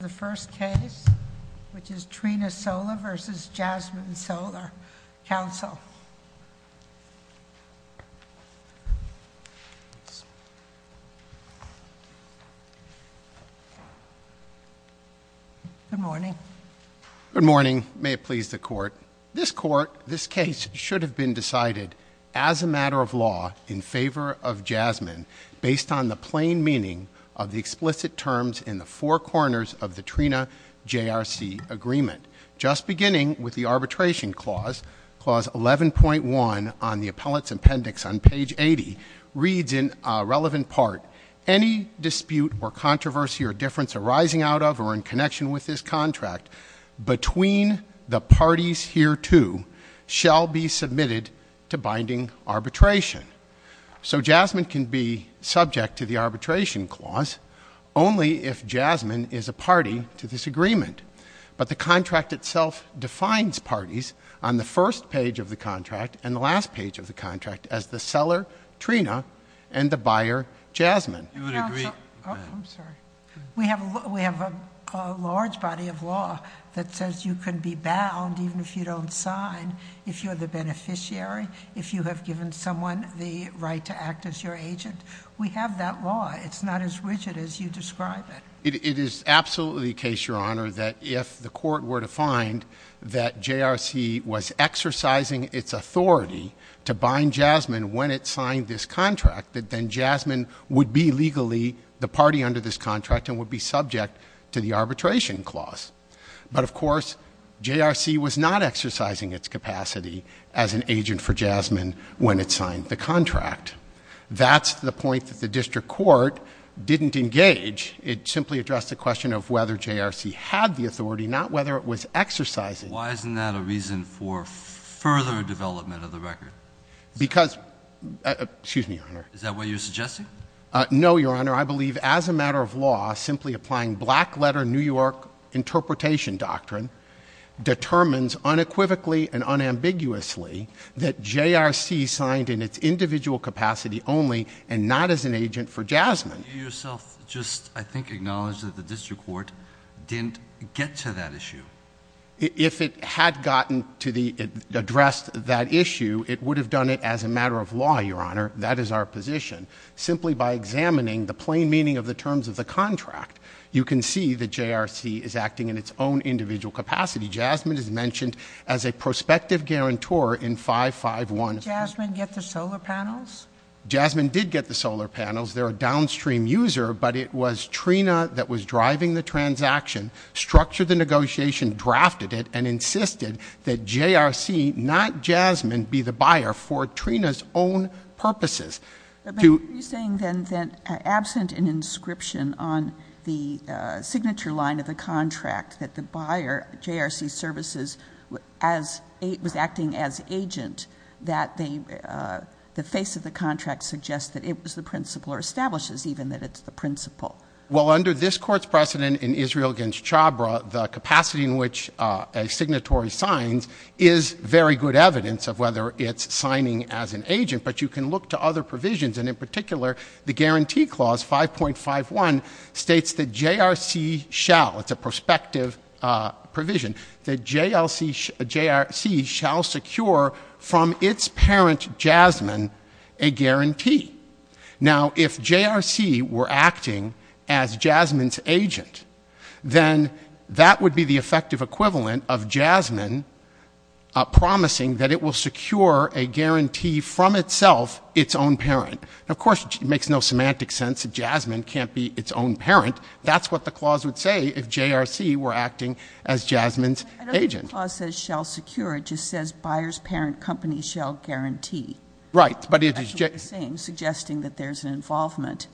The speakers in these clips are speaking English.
The first case, which is Trina Solar v. Jasmine Solar, counsel. Good morning. Good morning. May it please the court. This court, this case should have been decided as a matter of law in favor of Jasmine based on the plain meaning of the explicit terms in the four corners of the Trina JRC agreement. Just beginning with the arbitration clause, clause 11.1 on the appellate's appendix on page 80, reads in a relevant part, any dispute or controversy or difference arising out of or in connection with this contract between the parties hereto shall be submitted to binding arbitration. So Jasmine can be subject to the arbitration clause only if Jasmine is a party to this agreement. But the contract itself defines parties on the first page of the contract and the last page of the contract as the seller, Trina, and the buyer, Jasmine. You would agree? I'm sorry. We have a large body of law that says you can be bound, even if you don't sign, if you're the beneficiary, if you have given someone the right to act as your agent. We have that law. It's not as rigid as you describe it. It is absolutely the case, Your Honor, that if the court were to find that JRC was exercising its authority to bind Jasmine when it signed this contract, that then Jasmine would be legally the party under this contract and would be subject to the arbitration clause. But, of course, JRC was not exercising its capacity as an agent for Jasmine when it signed the contract. That's the point that the district court didn't engage. It simply addressed the question of whether JRC had the authority, not whether it was exercising it. Why isn't that a reason for further development of the record? Because — excuse me, Your Honor. Is that what you're suggesting? No, Your Honor. I believe, as a matter of law, simply applying black-letter New York interpretation doctrine determines unequivocally and unambiguously that JRC signed in its individual capacity only and not as an agent for Jasmine. You yourself just, I think, acknowledged that the district court didn't get to that issue. If it had gotten to the — addressed that issue, it would have done it as a matter of law, Your Honor. That is our position. Simply by examining the plain meaning of the terms of the contract, you can see that JRC is acting in its own individual capacity. Jasmine is mentioned as a prospective guarantor in 551. Did Jasmine get the solar panels? Jasmine did get the solar panels. They're a downstream user, but it was Trina that was driving the transaction, structured the negotiation, drafted it, and insisted that JRC, not Jasmine, be the buyer for Trina's own purposes. But are you saying, then, that absent an inscription on the signature line of the contract, that the buyer, JRC Services, was acting as agent, that the face of the contract suggests that it was the principal or establishes even that it's the principal? Well, under this Court's precedent in Israel against Chabra, the capacity in which a signatory signs is very good evidence of whether it's signing as an agent. But you can look to other provisions, and in particular, the Guarantee Clause 5.51 states that JRC shall — it's a prospective provision — that JRC shall secure from its parent, Jasmine, a guarantee. Now, if JRC were acting as Jasmine's agent, then that would be the effective equivalent of Jasmine promising that it will secure a guarantee from itself, its own parent. Of course, it makes no semantic sense that Jasmine can't be its own parent. That's what the clause would say if JRC were acting as Jasmine's agent. I don't think the clause says shall secure. It just says buyer's parent company shall guarantee. Right. It's actually the same, suggesting that there's an involvement,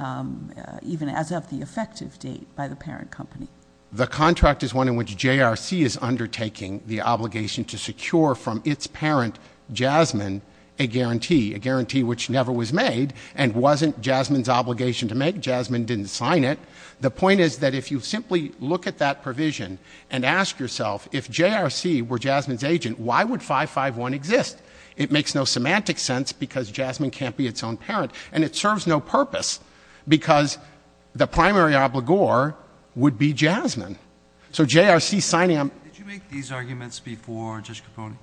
even as of the effective date, by the parent company. The contract is one in which JRC is undertaking the obligation to secure from its parent, Jasmine, a guarantee, a guarantee which never was made and wasn't Jasmine's obligation to make. Jasmine didn't sign it. The point is that if you simply look at that provision and ask yourself, if JRC were Jasmine's agent, why would 5.51 exist? It makes no semantic sense because Jasmine can't be its own parent. And it serves no purpose because the primary obligor would be Jasmine. So JRC signing on — Did you make these arguments before, Judge Capone?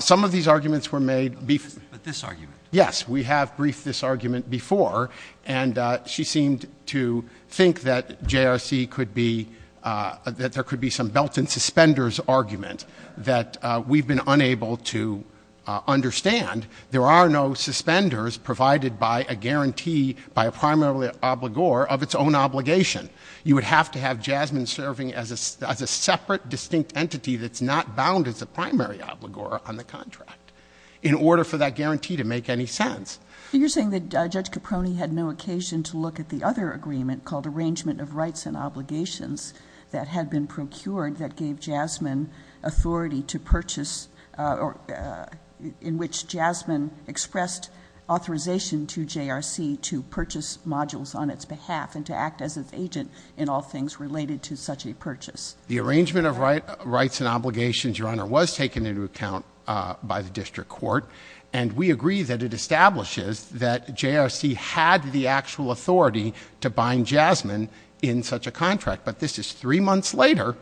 Some of these arguments were made — But this argument. Yes. We have briefed this argument before. And she seemed to think that JRC could be — that there could be some belt and suspenders argument that we've been unable to understand. There are no suspenders provided by a guarantee by a primary obligor of its own obligation. You would have to have Jasmine serving as a separate, distinct entity that's not bound as a primary obligor on the contract in order for that guarantee to make any sense. You're saying that Judge Capone had no occasion to look at the other agreement called Arrangement of Rights and Obligations that had been procured that gave Jasmine authority to purchase — in which Jasmine expressed authorization to JRC to purchase modules on its behalf and to act as an agent in all things related to such a purchase. The Arrangement of Rights and Obligations, Your Honor, was taken into account by the district court. And we agree that it establishes that JRC had the actual authority to bind Jasmine in such a contract. But this is three months later,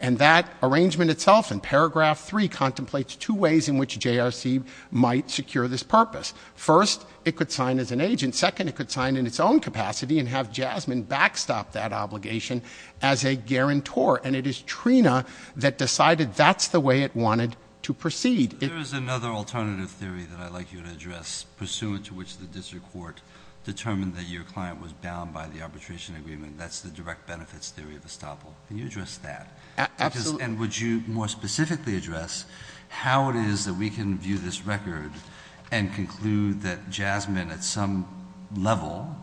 and that arrangement itself in paragraph 3 contemplates two ways in which JRC might secure this purpose. First, it could sign as an agent. Second, it could sign in its own capacity and have Jasmine backstop that obligation as a guarantor. And it is Trina that decided that's the way it wanted to proceed. There is another alternative theory that I'd like you to address, pursuant to which the district court determined that your client was bound by the arbitration agreement. That's the direct benefits theory of estoppel. Can you address that? Absolutely. And would you more specifically address how it is that we can view this record and conclude that Jasmine at some level,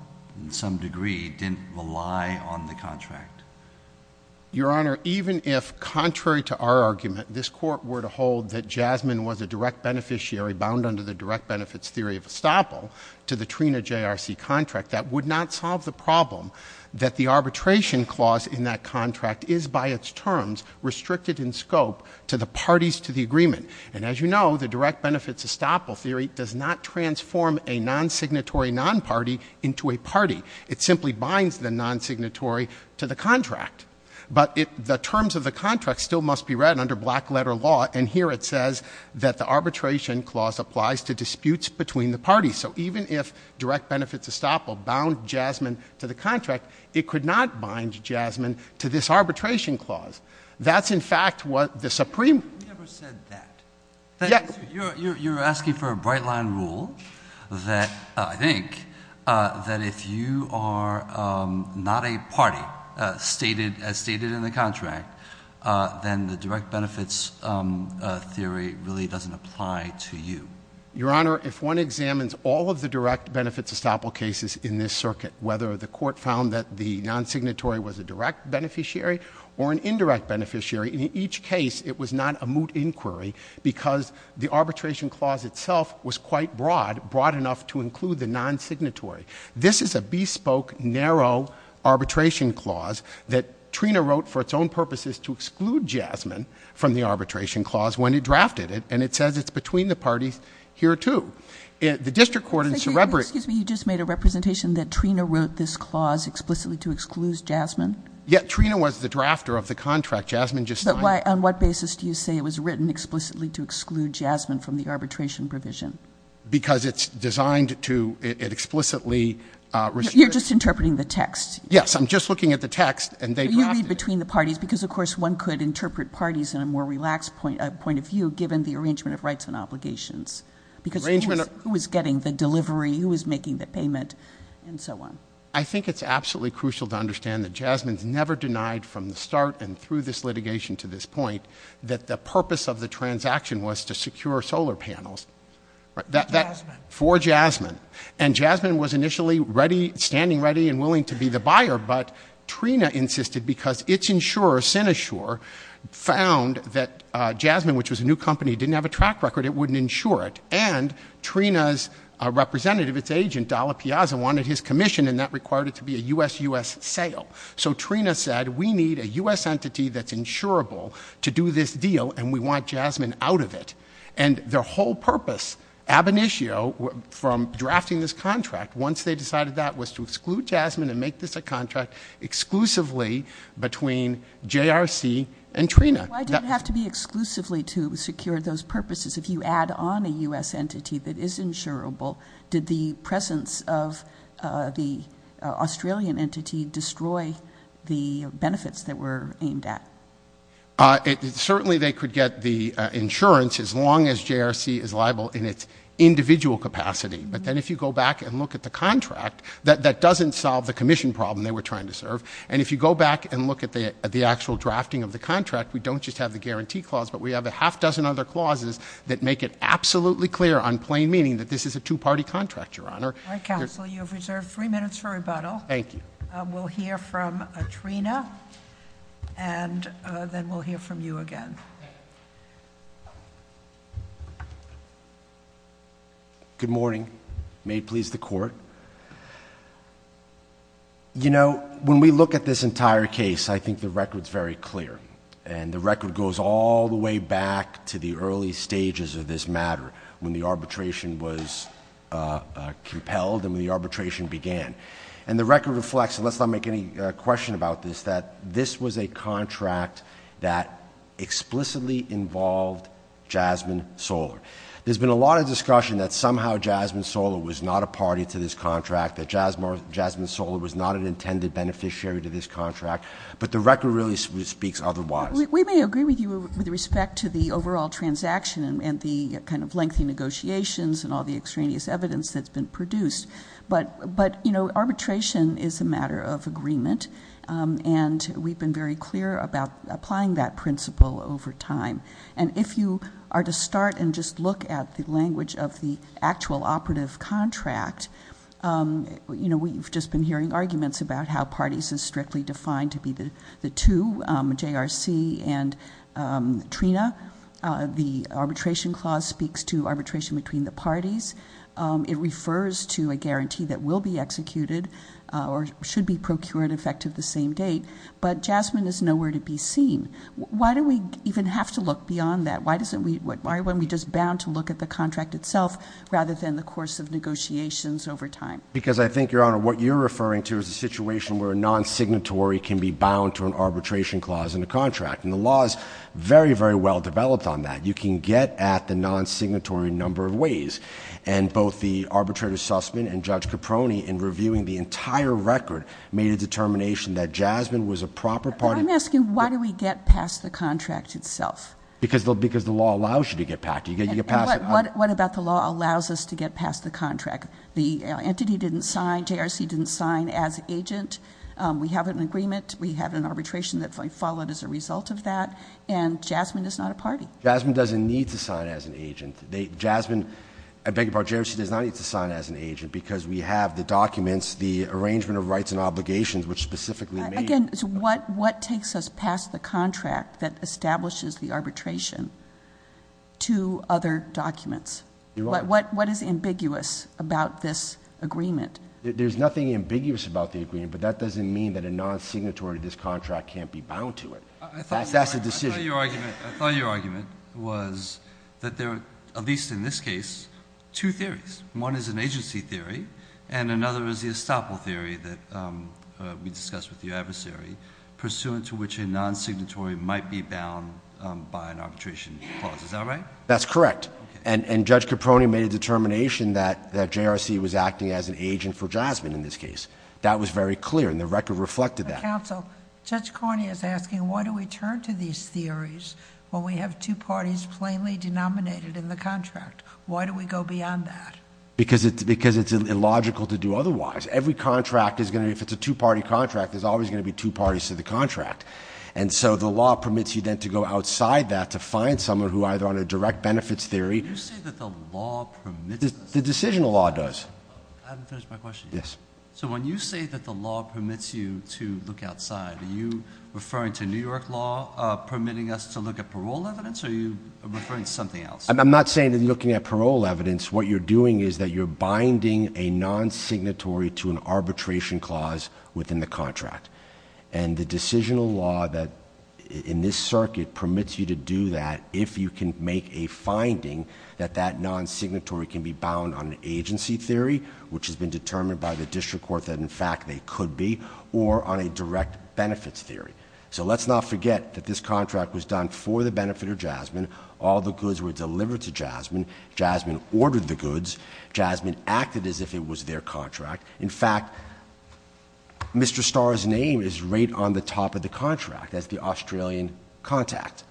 in some degree, didn't rely on the contract? Your Honor, even if, contrary to our argument, this court were to hold that Jasmine was a direct beneficiary bound under the direct benefits theory of estoppel to the Trina JRC contract, that would not solve the problem that the arbitration clause in that contract is, by its terms, restricted in scope to the parties to the agreement. And as you know, the direct benefits estoppel theory does not transform a non-signatory non-party into a party. It simply binds the non-signatory to the contract. But the terms of the contract still must be read under black-letter law. And here it says that the arbitration clause applies to disputes between the parties. So even if direct benefits estoppel bound Jasmine to the contract, it could not bind Jasmine to this arbitration clause. That's, in fact, what the Supreme — You never said that. Yes. You're asking for a bright-line rule that I think that if you are not a party, as stated in the contract, then the direct benefits theory really doesn't apply to you. Your Honor, if one examines all of the direct benefits estoppel cases in this circuit, whether the court found that the non-signatory was a direct beneficiary or an indirect beneficiary, in each case it was not a moot inquiry because the arbitration clause itself was quite broad, broad enough to include the non-signatory. This is a bespoke, narrow arbitration clause that Trina wrote for its own purposes to exclude Jasmine from the arbitration clause when it drafted it. And it says it's between the parties here, too. The district court in Cerebri — Excuse me. You just made a representation that Trina wrote this clause explicitly to exclude Jasmine? Yes. Trina was the drafter of the contract. Jasmine just signed it. But on what basis do you say it was written explicitly to exclude Jasmine from the arbitration provision? Because it's designed to explicitly restrict — You're just interpreting the text. Yes. I'm just looking at the text, and they drafted it. You read between the parties because, of course, one could interpret parties in a more relaxed point of view given the arrangement of rights and obligations. Because who is getting the delivery? Who is making the payment? And so on. I think it's absolutely crucial to understand that Jasmine's never denied from the start and through this litigation to this point that the purpose of the transaction was to secure solar panels. For Jasmine. For Jasmine. And Jasmine was initially ready — standing ready and willing to be the buyer. But Trina insisted because its insurer, Sinashore, found that Jasmine, which was a new company, didn't have a track record. It wouldn't insure it. And Trina's representative, its agent, Dalla Piazza, wanted his commission, and that required it to be a U.S.-U.S. sale. So Trina said, we need a U.S. entity that's insurable to do this deal, and we want Jasmine out of it. And their whole purpose, ab initio, from drafting this contract, once they decided that, was to exclude Jasmine and make this a contract exclusively between JRC and Trina. Why did it have to be exclusively to secure those purposes? If you add on a U.S. entity that is insurable, did the presence of the Australian entity destroy the benefits that were aimed at? Certainly they could get the insurance as long as JRC is liable in its individual capacity. But then if you go back and look at the contract, that doesn't solve the commission problem they were trying to serve. And if you go back and look at the actual drafting of the contract, we don't just have the guarantee clause, but we have a half dozen other clauses that make it absolutely clear on plain meaning that this is a two-party contract, Your Honor. All right, counsel, you have reserved three minutes for rebuttal. Thank you. We'll hear from Trina, and then we'll hear from you again. Good morning. May it please the court. You know, when we look at this entire case, I think the record's very clear, and the record goes all the way back to the early stages of this matter, when the arbitration was compelled and when the arbitration began. And the record reflects, and let's not make any question about this, that this was a contract that explicitly involved Jasmine Soller. There's been a lot of discussion that somehow Jasmine Soller was not a party to this contract, that Jasmine Soller was not an intended beneficiary to this contract. But the record really speaks otherwise. We may agree with you with respect to the overall transaction and the kind of lengthy negotiations and all the extraneous evidence that's been produced. But, you know, arbitration is a matter of agreement, and we've been very clear about applying that principle over time. And if you are to start and just look at the language of the actual operative contract, you know, we've just been hearing arguments about how parties are strictly defined to be the two, JRC and Trina. The arbitration clause speaks to arbitration between the parties. It refers to a guarantee that will be executed or should be procured effective the same date. But Jasmine is nowhere to be seen. Why do we even have to look beyond that? Why aren't we just bound to look at the contract itself rather than the course of negotiations over time? Because I think, Your Honor, what you're referring to is a situation where a non-signatory can be bound to an arbitration clause in a contract. And the law is very, very well developed on that. You can get at the non-signatory in a number of ways. And both the arbitrator, Sussman, and Judge Caproni, in reviewing the entire record, made a determination that Jasmine was a proper party. I'm asking, why do we get past the contract itself? Because the law allows you to get past it. And what about the law allows us to get past the contract? The entity didn't sign. JRC didn't sign as agent. We have an agreement. We have an arbitration that followed as a result of that. And Jasmine is not a party. Jasmine doesn't need to sign as an agent. Jasmine, I beg your pardon, JRC does not need to sign as an agent because we have the documents, the arrangement of rights and obligations, which specifically made. Again, what takes us past the contract that establishes the arbitration to other documents? What is ambiguous about this agreement? There's nothing ambiguous about the agreement, but that doesn't mean that a non-signatory to this contract can't be bound to it. That's the decision. I thought your argument was that there are, at least in this case, two theories. One is an agency theory, and another is the estoppel theory that we discussed with your adversary, pursuant to which a non-signatory might be bound by an arbitration clause. Is that right? That's correct. And Judge Caproni made a determination that JRC was acting as an agent for Jasmine in this case. That was very clear, and the record reflected that. Counsel, Judge Cornyn is asking why do we turn to these theories when we have two parties plainly denominated in the contract? Why do we go beyond that? Because it's illogical to do otherwise. Every contract is going to be, if it's a two-party contract, there's always going to be two parties to the contract. And so the law permits you then to go outside that to find someone who either on a direct benefits theory. You say that the law permits us. The decisional law does. I haven't finished my question yet. Yes. So when you say that the law permits you to look outside, are you referring to New York law permitting us to look at parole evidence, or are you referring to something else? I'm not saying that you're looking at parole evidence. What you're doing is that you're binding a non-signatory to an arbitration clause within the contract. And the decisional law in this circuit permits you to do that if you can make a finding that that non-signatory can be bound on an agency theory, which has been determined by the district court that in fact they could be, or on a direct benefits theory. So let's not forget that this contract was done for the benefit of Jasmine. All the goods were delivered to Jasmine. Jasmine ordered the goods. Jasmine acted as if it was their contract. In fact, Mr. Starr's name is right on the top of the contract as the Australian contact.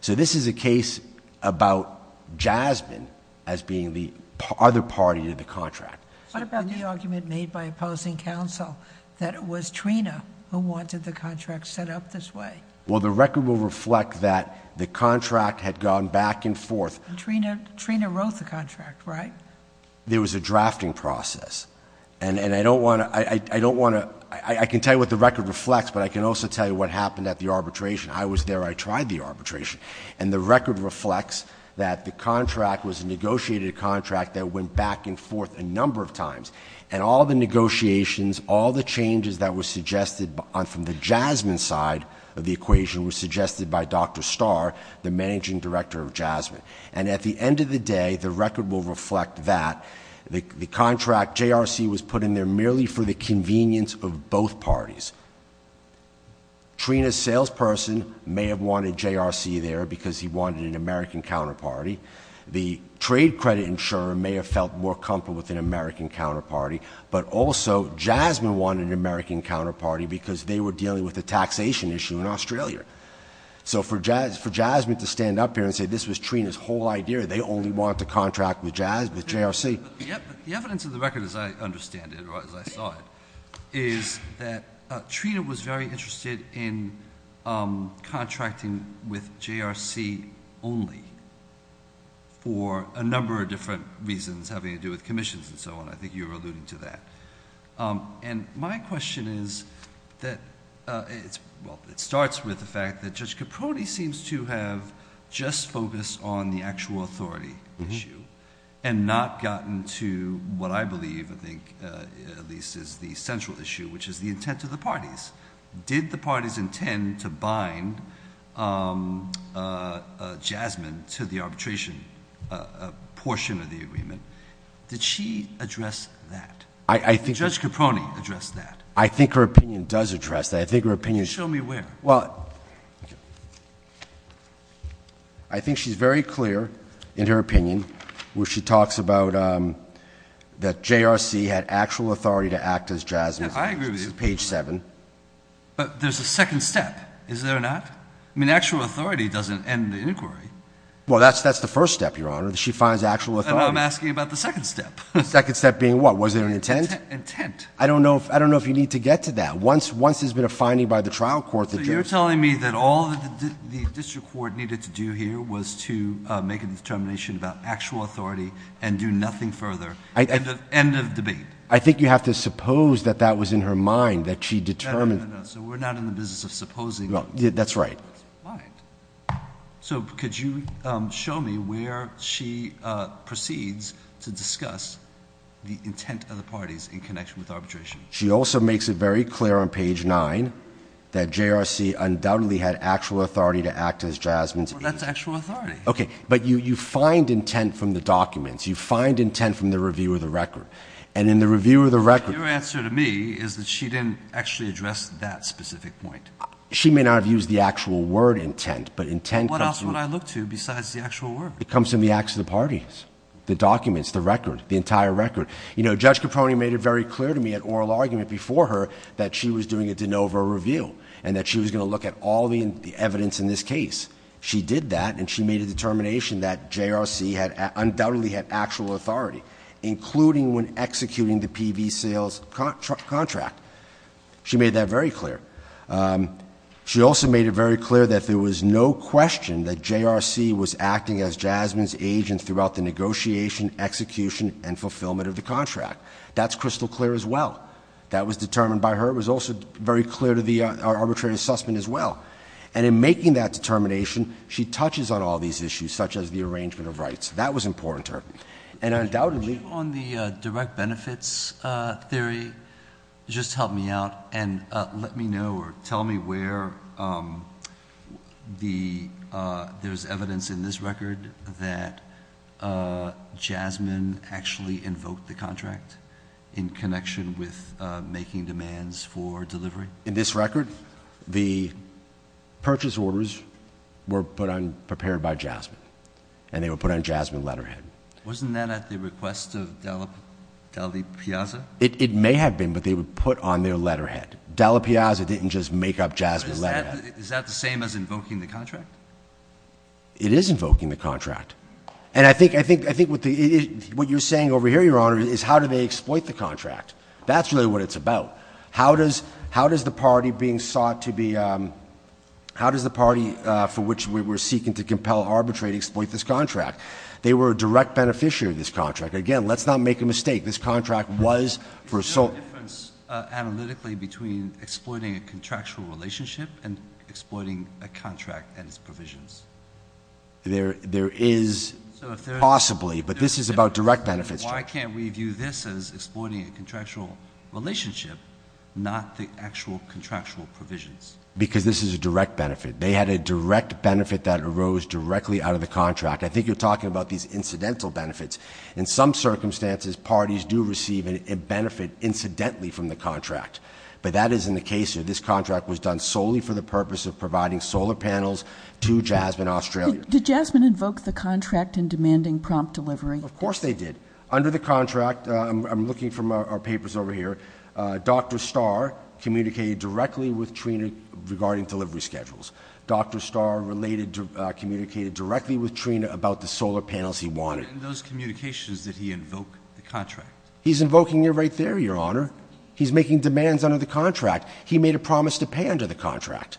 So this is a case about Jasmine as being the other party to the contract. What about the argument made by opposing counsel that it was Trina who wanted the contract set up this way? Well, the record will reflect that the contract had gone back and forth. Trina wrote the contract, right? There was a drafting process. And I can tell you what the record reflects, but I can also tell you what happened at the arbitration. I was there. I tried the arbitration. And the record reflects that the contract was a negotiated contract that went back and forth a number of times. And all the negotiations, all the changes that were suggested from the Jasmine side of the equation were suggested by Dr. Starr, the managing director of Jasmine. And at the end of the day, the record will reflect that the contract, JRC, was put in there merely for the convenience of both parties. Trina's salesperson may have wanted JRC there because he wanted an American counterparty. The trade credit insurer may have felt more comfortable with an American counterparty. But also, Jasmine wanted an American counterparty because they were dealing with a taxation issue in Australia. So for Jasmine to stand up here and say this was Trina's whole idea, they only want to contract with JRC. The evidence of the record, as I understand it, or as I saw it, is that Trina was very interested in contracting with JRC only for a number of different reasons having to do with commissions and so on. I think you were alluding to that. And my question is that it starts with the fact that Judge Caproni seems to have just focused on the actual authority issue and not gotten to what I believe, I think at least, is the central issue, which is the intent of the parties. Did the parties intend to bind Jasmine to the arbitration portion of the agreement? Did she address that? Judge Caproni addressed that. I think her opinion does address that. Show me where. Well, I think she's very clear in her opinion when she talks about that JRC had actual authority to act as Jasmine's case. I agree with you. This is page 7. But there's a second step, is there not? Well, that's the first step, Your Honor. She finds actual authority. I know. I'm asking about the second step. The second step being what? Was there an intent? Intent. I don't know if you need to get to that. Once there's been a finding by the trial court that Judge... So you're telling me that all the district court needed to do here was to make a determination about actual authority and do nothing further. End of debate. I think you have to suppose that that was in her mind, that she determined... No, no, no, no. So we're not in the business of supposing. That's right. So could you show me where she proceeds to discuss the intent of the parties in connection with arbitration? She also makes it very clear on page 9 that JRC undoubtedly had actual authority to act as Jasmine's case. Well, that's actual authority. Okay. But you find intent from the documents. You find intent from the review of the record. And in the review of the record... Your answer to me is that she didn't actually address that specific point. She may not have used the actual word intent, but intent... What else would I look to besides the actual word? It comes from the acts of the parties, the documents, the record, the entire record. You know, Judge Capone made it very clear to me at oral argument before her that she was doing a de novo review and that she was going to look at all the evidence in this case. She did that and she made a determination that JRC undoubtedly had actual authority, including when executing the PV sales contract. She made that very clear. She also made it very clear that there was no question that JRC was acting as Jasmine's agent throughout the negotiation, execution, and fulfillment of the contract. That's crystal clear as well. That was determined by her. It was also very clear to the arbitrary assessment as well. And in making that determination, she touches on all these issues, such as the That was important to her. And undoubtedly... where there's evidence in this record that Jasmine actually invoked the contract in connection with making demands for delivery? In this record, the purchase orders were prepared by Jasmine and they were put on Jasmine's letterhead. Wasn't that at the request of Dallapiazza? It may have been, but they were put on their letterhead. Dallapiazza didn't just make up Jasmine's letterhead. Is that the same as invoking the contract? It is invoking the contract. And I think what you're saying over here, Your Honor, is how do they exploit the contract? That's really what it's about. How does the party being sought to be... How does the party for which we were seeking to compel arbitrary exploit this contract? They were a direct beneficiary of this contract. Again, let's not make a mistake. This contract was for... Is there a difference analytically between exploiting a contractual relationship and exploiting a contract and its provisions? There is possibly, but this is about direct benefits. Why can't we view this as exploiting a contractual relationship, not the actual contractual provisions? Because this is a direct benefit. They had a direct benefit that arose directly out of the contract. I think you're talking about these incidental benefits. In some circumstances, parties do receive a benefit incidentally from the contract. But that isn't the case here. This contract was done solely for the purpose of providing solar panels to Jasmine, Australia. Did Jasmine invoke the contract in demanding prompt delivery? Of course they did. Under the contract, I'm looking from our papers over here, Dr. Starr communicated directly with Trina regarding delivery schedules. Dr. Starr communicated directly with Trina about the solar panels he wanted. But in those communications, did he invoke the contract? He's invoking it right there, Your Honor. He's making demands under the contract. He made a promise to pay under the contract.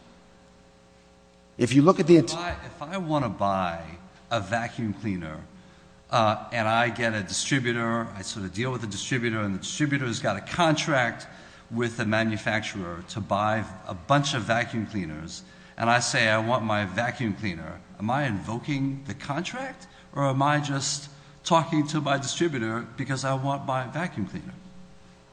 If you look at the... If I want to buy a vacuum cleaner and I get a distributor, I sort of deal with the distributor, and the distributor has got a contract with the manufacturer to buy a bunch of vacuum cleaners, and I say I want my vacuum cleaner, am I invoking the contract or am I just talking to my distributor because I want my vacuum cleaner?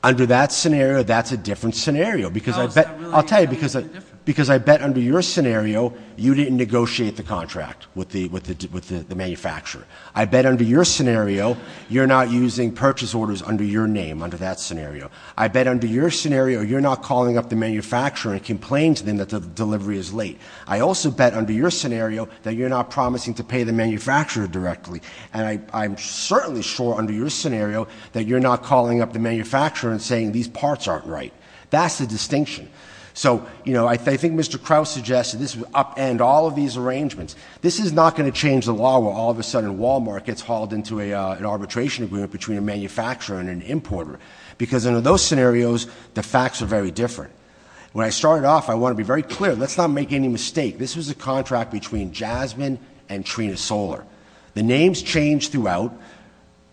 Under that scenario, that's a different scenario because I bet... I'll tell you, because I bet under your scenario, you didn't negotiate the contract with the manufacturer. I bet under your scenario, you're not using purchase orders under your name under that scenario. I bet under your scenario, you're not calling up the manufacturer and complain to them that the delivery is late. I also bet under your scenario that you're not promising to pay the manufacturer directly, and I'm certainly sure under your scenario that you're not calling up the manufacturer and saying these parts aren't right. That's the distinction. So, you know, I think Mr. Krause suggested this would upend all of these arrangements. This is not going to change the law where all of a sudden Walmart gets hauled into an arbitration agreement between a manufacturer and an importer because under those scenarios, the facts are very different. When I started off, I want to be very clear. Let's not make any mistake. This was a contract between Jasmine and Trina Solar. The names change throughout,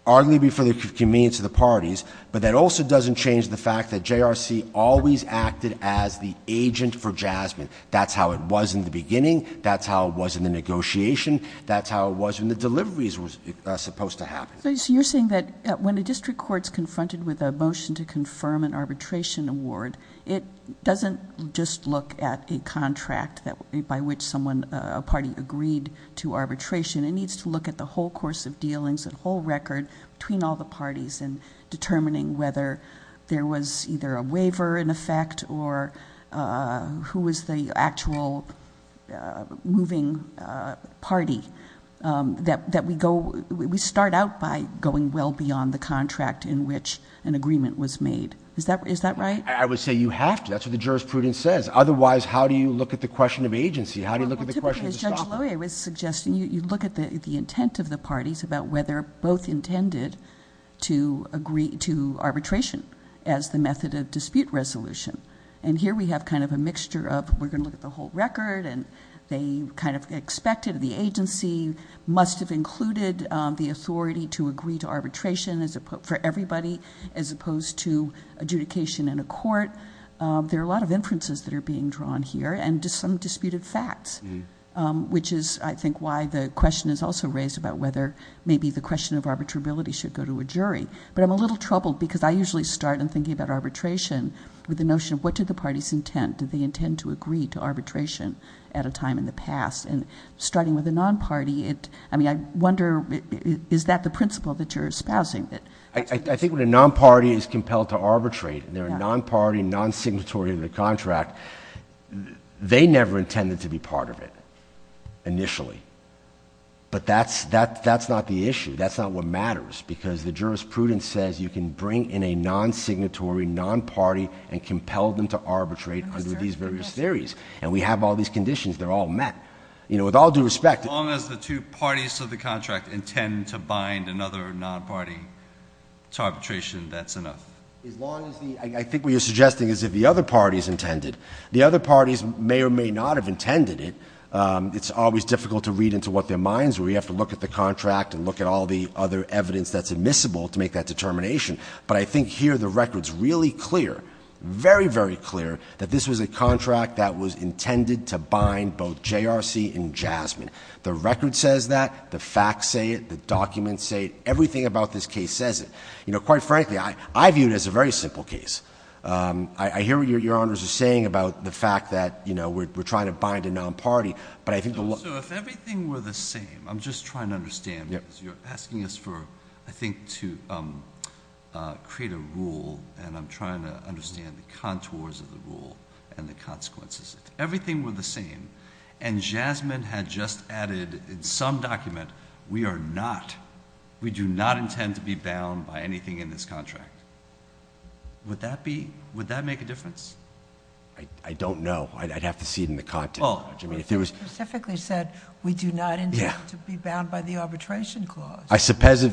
arguably for the convenience of the parties, but that also doesn't change the fact that JRC always acted as the agent for Jasmine. That's how it was in the beginning. That's how it was in the negotiation. That's how it was when the deliveries were supposed to happen. So you're saying that when a district court is confronted with a motion to confirm an arbitration award, it doesn't just look at a contract by which someone, a party agreed to arbitration. It needs to look at the whole course of dealings, the whole record between all the parties and determining whether there was either a waiver in effect or who was the actual moving party that we go, we start out by going well beyond the contract in which an agreement was made. Is that right? I would say you have to. That's what the jurisprudence says. Otherwise, how do you look at the question of agency? How do you look at the question? I was suggesting you look at the, the intent of the parties about whether both intended to agree to arbitration as the method of dispute resolution. And here we have kind of a mixture of, we're going to look at the whole record and they kind of expected the agency must've included the authority to agree to arbitration as opposed to adjudication in a court. There are a lot of inferences that are being drawn here and just some disputed facts, which is I think why the question is also raised about whether maybe the question of arbitrability should go to a jury, but I'm a little troubled because I usually start in thinking about arbitration with the notion of what did the parties intend? Did they intend to agree to arbitration at a time in the past? And starting with a non-party it, I mean, I wonder is that the principle that you're espousing? I think when a non-party is compelled to arbitrate and they're a non-party non-signatory of the contract, they never intended to be part of it initially, but that's, that, that's not the issue. That's not what matters because the jurisprudence says you can bring in a non-signatory non-party and compelled them to arbitrate under these various theories. And we have all these conditions. They're all met, you know, with all due respect. As long as the two parties of the contract intend to bind another non-party to arbitration, that's enough. As long as the, I think what you're suggesting is if the other parties intended the other parties may or may not have intended it. It's always difficult to read into what their minds were. You have to look at the contract and look at all the other evidence that's admissible to make that determination. But I think here the record's really clear, very, very clear that this was a contract that was intended to bind both JRC and Jasmine. The record says that the facts say it, the documents say, everything about this case says it, you know, quite frankly, I viewed it as a very simple case. I hear what your honors are saying about the fact that, you know, we're trying to bind a non-party, but I think the law. So if everything were the same, I'm just trying to understand, you're asking us for, I think, to create a rule. And I'm trying to understand the contours of the rule and the consequences if everything were the same and Jasmine had just added in some document, we are not, we do not intend to be bound by anything in this contract. Would that be, would that make a difference? I don't know. I'd have to see it in the content. Well, it specifically said we do not intend to be bound by the arbitration clause. I suppose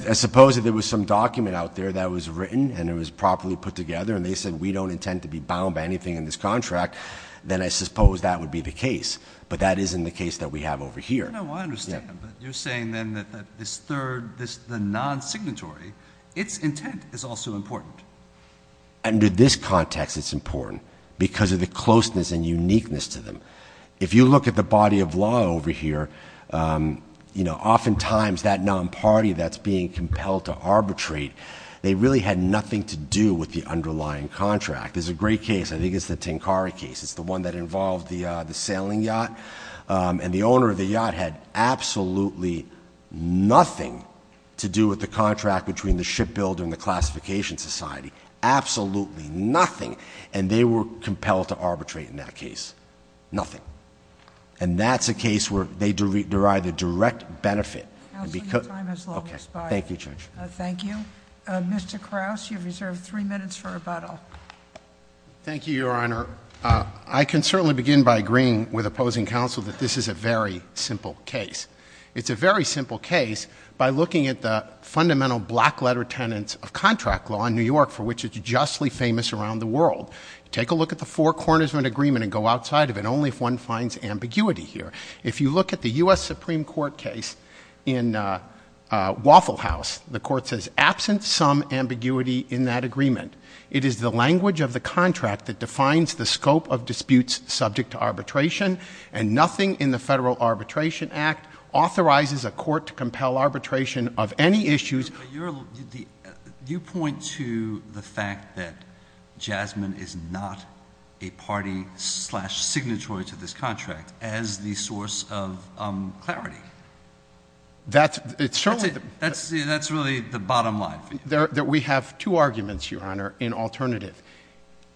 if there was some document out there that was written and it was properly put together and they said we don't intend to be bound by anything in this contract, then I suppose that would be the case. But that isn't the case that we have over here. No, I understand. But you're saying then that this third, this, the non-signatory, its intent is also important. Under this context, it's important because of the closeness and uniqueness to them. If you look at the body of law over here, you know, oftentimes that non-party that's being compelled to arbitrate, they really had nothing to do with the underlying contract. There's a great case, I think it's the Tinkari case. It's the one that involved the sailing yacht. And the owner of the yacht had absolutely nothing to do with the contract between the shipbuilder and the classification society. Absolutely nothing. And they were compelled to arbitrate in that case. Nothing. And that's a case where they derive a direct benefit. Counsel, your time has long expired. Thank you, Judge. Thank you. Mr. Krause, you have reserved three minutes for rebuttal. Thank you, Your Honor. I can certainly begin by agreeing with opposing counsel that this is a very simple case. It's a very simple case by looking at the fundamental black letter tenets of contract law in New York for which it's justly famous around the world. Take a look at the four corners of an agreement and go outside of it, only if one finds ambiguity here. If you look at the U.S. Supreme Court case in Waffle House, the court says, absent some ambiguity in that agreement, it is the language of the contract that defines the scope of disputes subject to arbitration, and nothing in the Federal Arbitration Act authorizes a court to compel arbitration of any issues. You point to the fact that Jasmine is not a party slash signatory to this contract as the source of clarity. That's really the bottom line. We have two arguments, Your Honor, in alternative.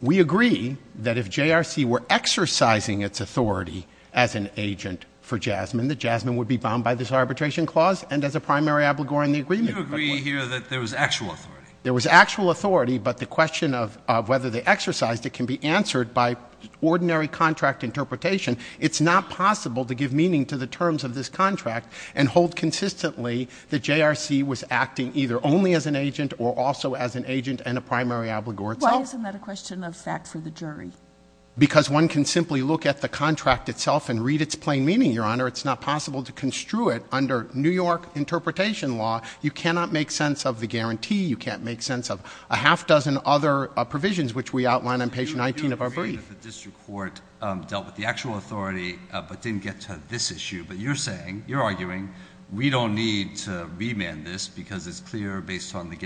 We agree that if JRC were exercising its authority as an agent for Jasmine, that Jasmine would be bound by this arbitration clause and as a primary abligor in the agreement. You agree here that there was actual authority. There was actual authority, but the question of whether they exercised it can be answered by ordinary contract interpretation. It's not possible to give meaning to the terms of this contract and hold consistently that JRC was acting either only as an agent or also as an agent and a primary obligor itself? Why isn't that a question of fact for the jury? Because one can simply look at the contract itself and read its plain meaning, Your Honor. It's not possible to construe it under New York interpretation law. You cannot make sense of the guarantee. You can't make sense of a half dozen other provisions, which we outline on page 19 of our brief. The district court dealt with the actual authority but didn't get to this issue. But you're saying, you're arguing we don't need to remand this because it's clear based on the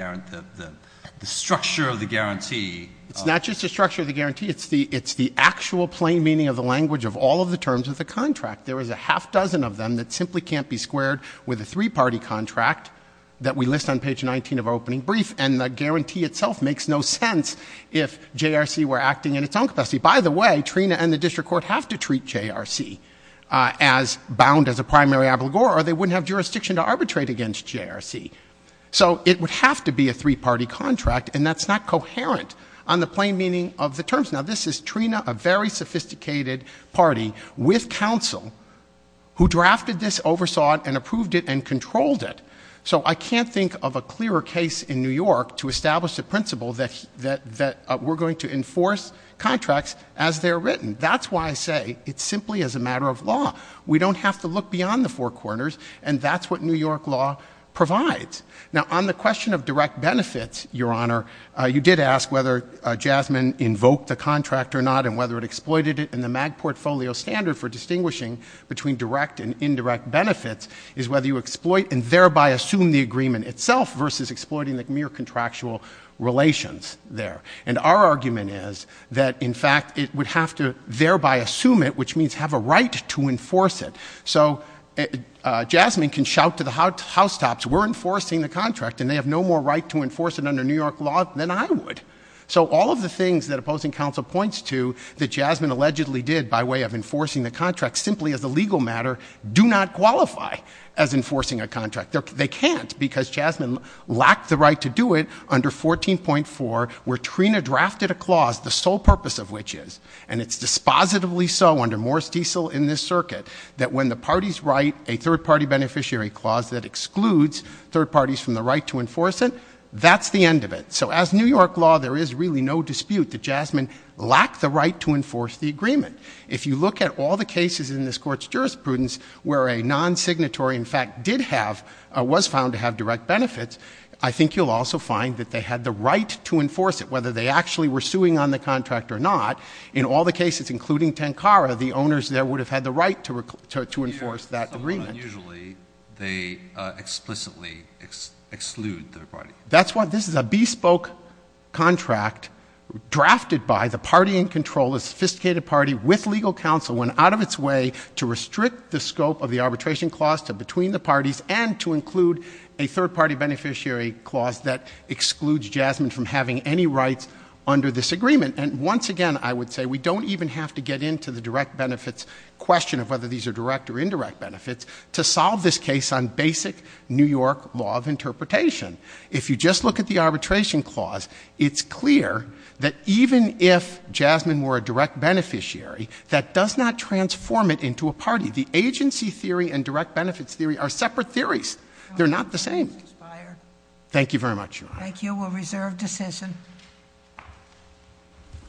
structure of the guarantee. It's not just the structure of the guarantee. It's the actual plain meaning of the language of all of the terms of the contract. There is a half dozen of them that simply can't be squared with a three-party contract that we list on page 19 of our opening brief. And the guarantee itself makes no sense if JRC were acting in its own capacity. By the way, Trina and the district court have to treat JRC as bound as a primary obligor or they wouldn't have jurisdiction to arbitrate against JRC. So it would have to be a three-party contract, and that's not coherent on the plain meaning of the terms. Now, this is Trina, a very sophisticated party with counsel who drafted this, oversaw it, and approved it and controlled it. So I can't think of a clearer case in New York to establish the principle that we're going to enforce contracts as they're written. That's why I say it's simply as a matter of law. We don't have to look beyond the four corners, and that's what New York law provides. Now, on the question of direct benefits, Your Honor, you did ask whether Jasmine invoked the contract or not and whether it exploited it in the MAG portfolio standard for distinguishing between direct and indirect benefits is whether you exploit and thereby assume the agreement itself versus exploiting the mere contractual relations there. And our argument is that, in fact, it would have to thereby assume it, which means have a right to enforce it. So Jasmine can shout to the housetops, we're enforcing the contract, and they have no more right to enforce it under New York law than I would. So all of the things that opposing counsel points to that Jasmine allegedly did by way of enforcing the contract simply as a legal matter do not qualify as enforcing a contract. They can't because Jasmine lacked the right to do it under 14.4 where Trina drafted a clause, the sole purpose of which is, and it's dispositively so under Morris Diesel in this circuit, that when the parties write a third-party beneficiary clause that excludes third parties from the right to enforce it, that's the end of it. So as New York law, there is really no dispute that Jasmine lacked the right to enforce the agreement. If you look at all the cases in this Court's jurisprudence where a non-signatory, in fact, did have, was found to have direct benefits, I think you'll also find that they had the right to enforce it, whether they actually were suing on the contract or not. In all the cases, including Tenkara, the owners there would have had the right to enforce that agreement. Usually they explicitly exclude their party. That's why this is a bespoke contract drafted by the party in control, a sophisticated party with legal counsel, went out of its way to restrict the scope of the arbitration clause to between the parties and to include a third-party beneficiary clause that excludes Jasmine from having any rights under this agreement. And once again, I would say we don't even have to get into the direct benefits question of whether these are direct or indirect benefits to solve this case on basic New York law of interpretation. If you just look at the arbitration clause, it's clear that even if Jasmine were a direct beneficiary, that does not transform it into a party. The agency theory and direct benefits theory are separate theories. They're not the same. Thank you very much, Your Honor. Thank you. We'll reserve decision.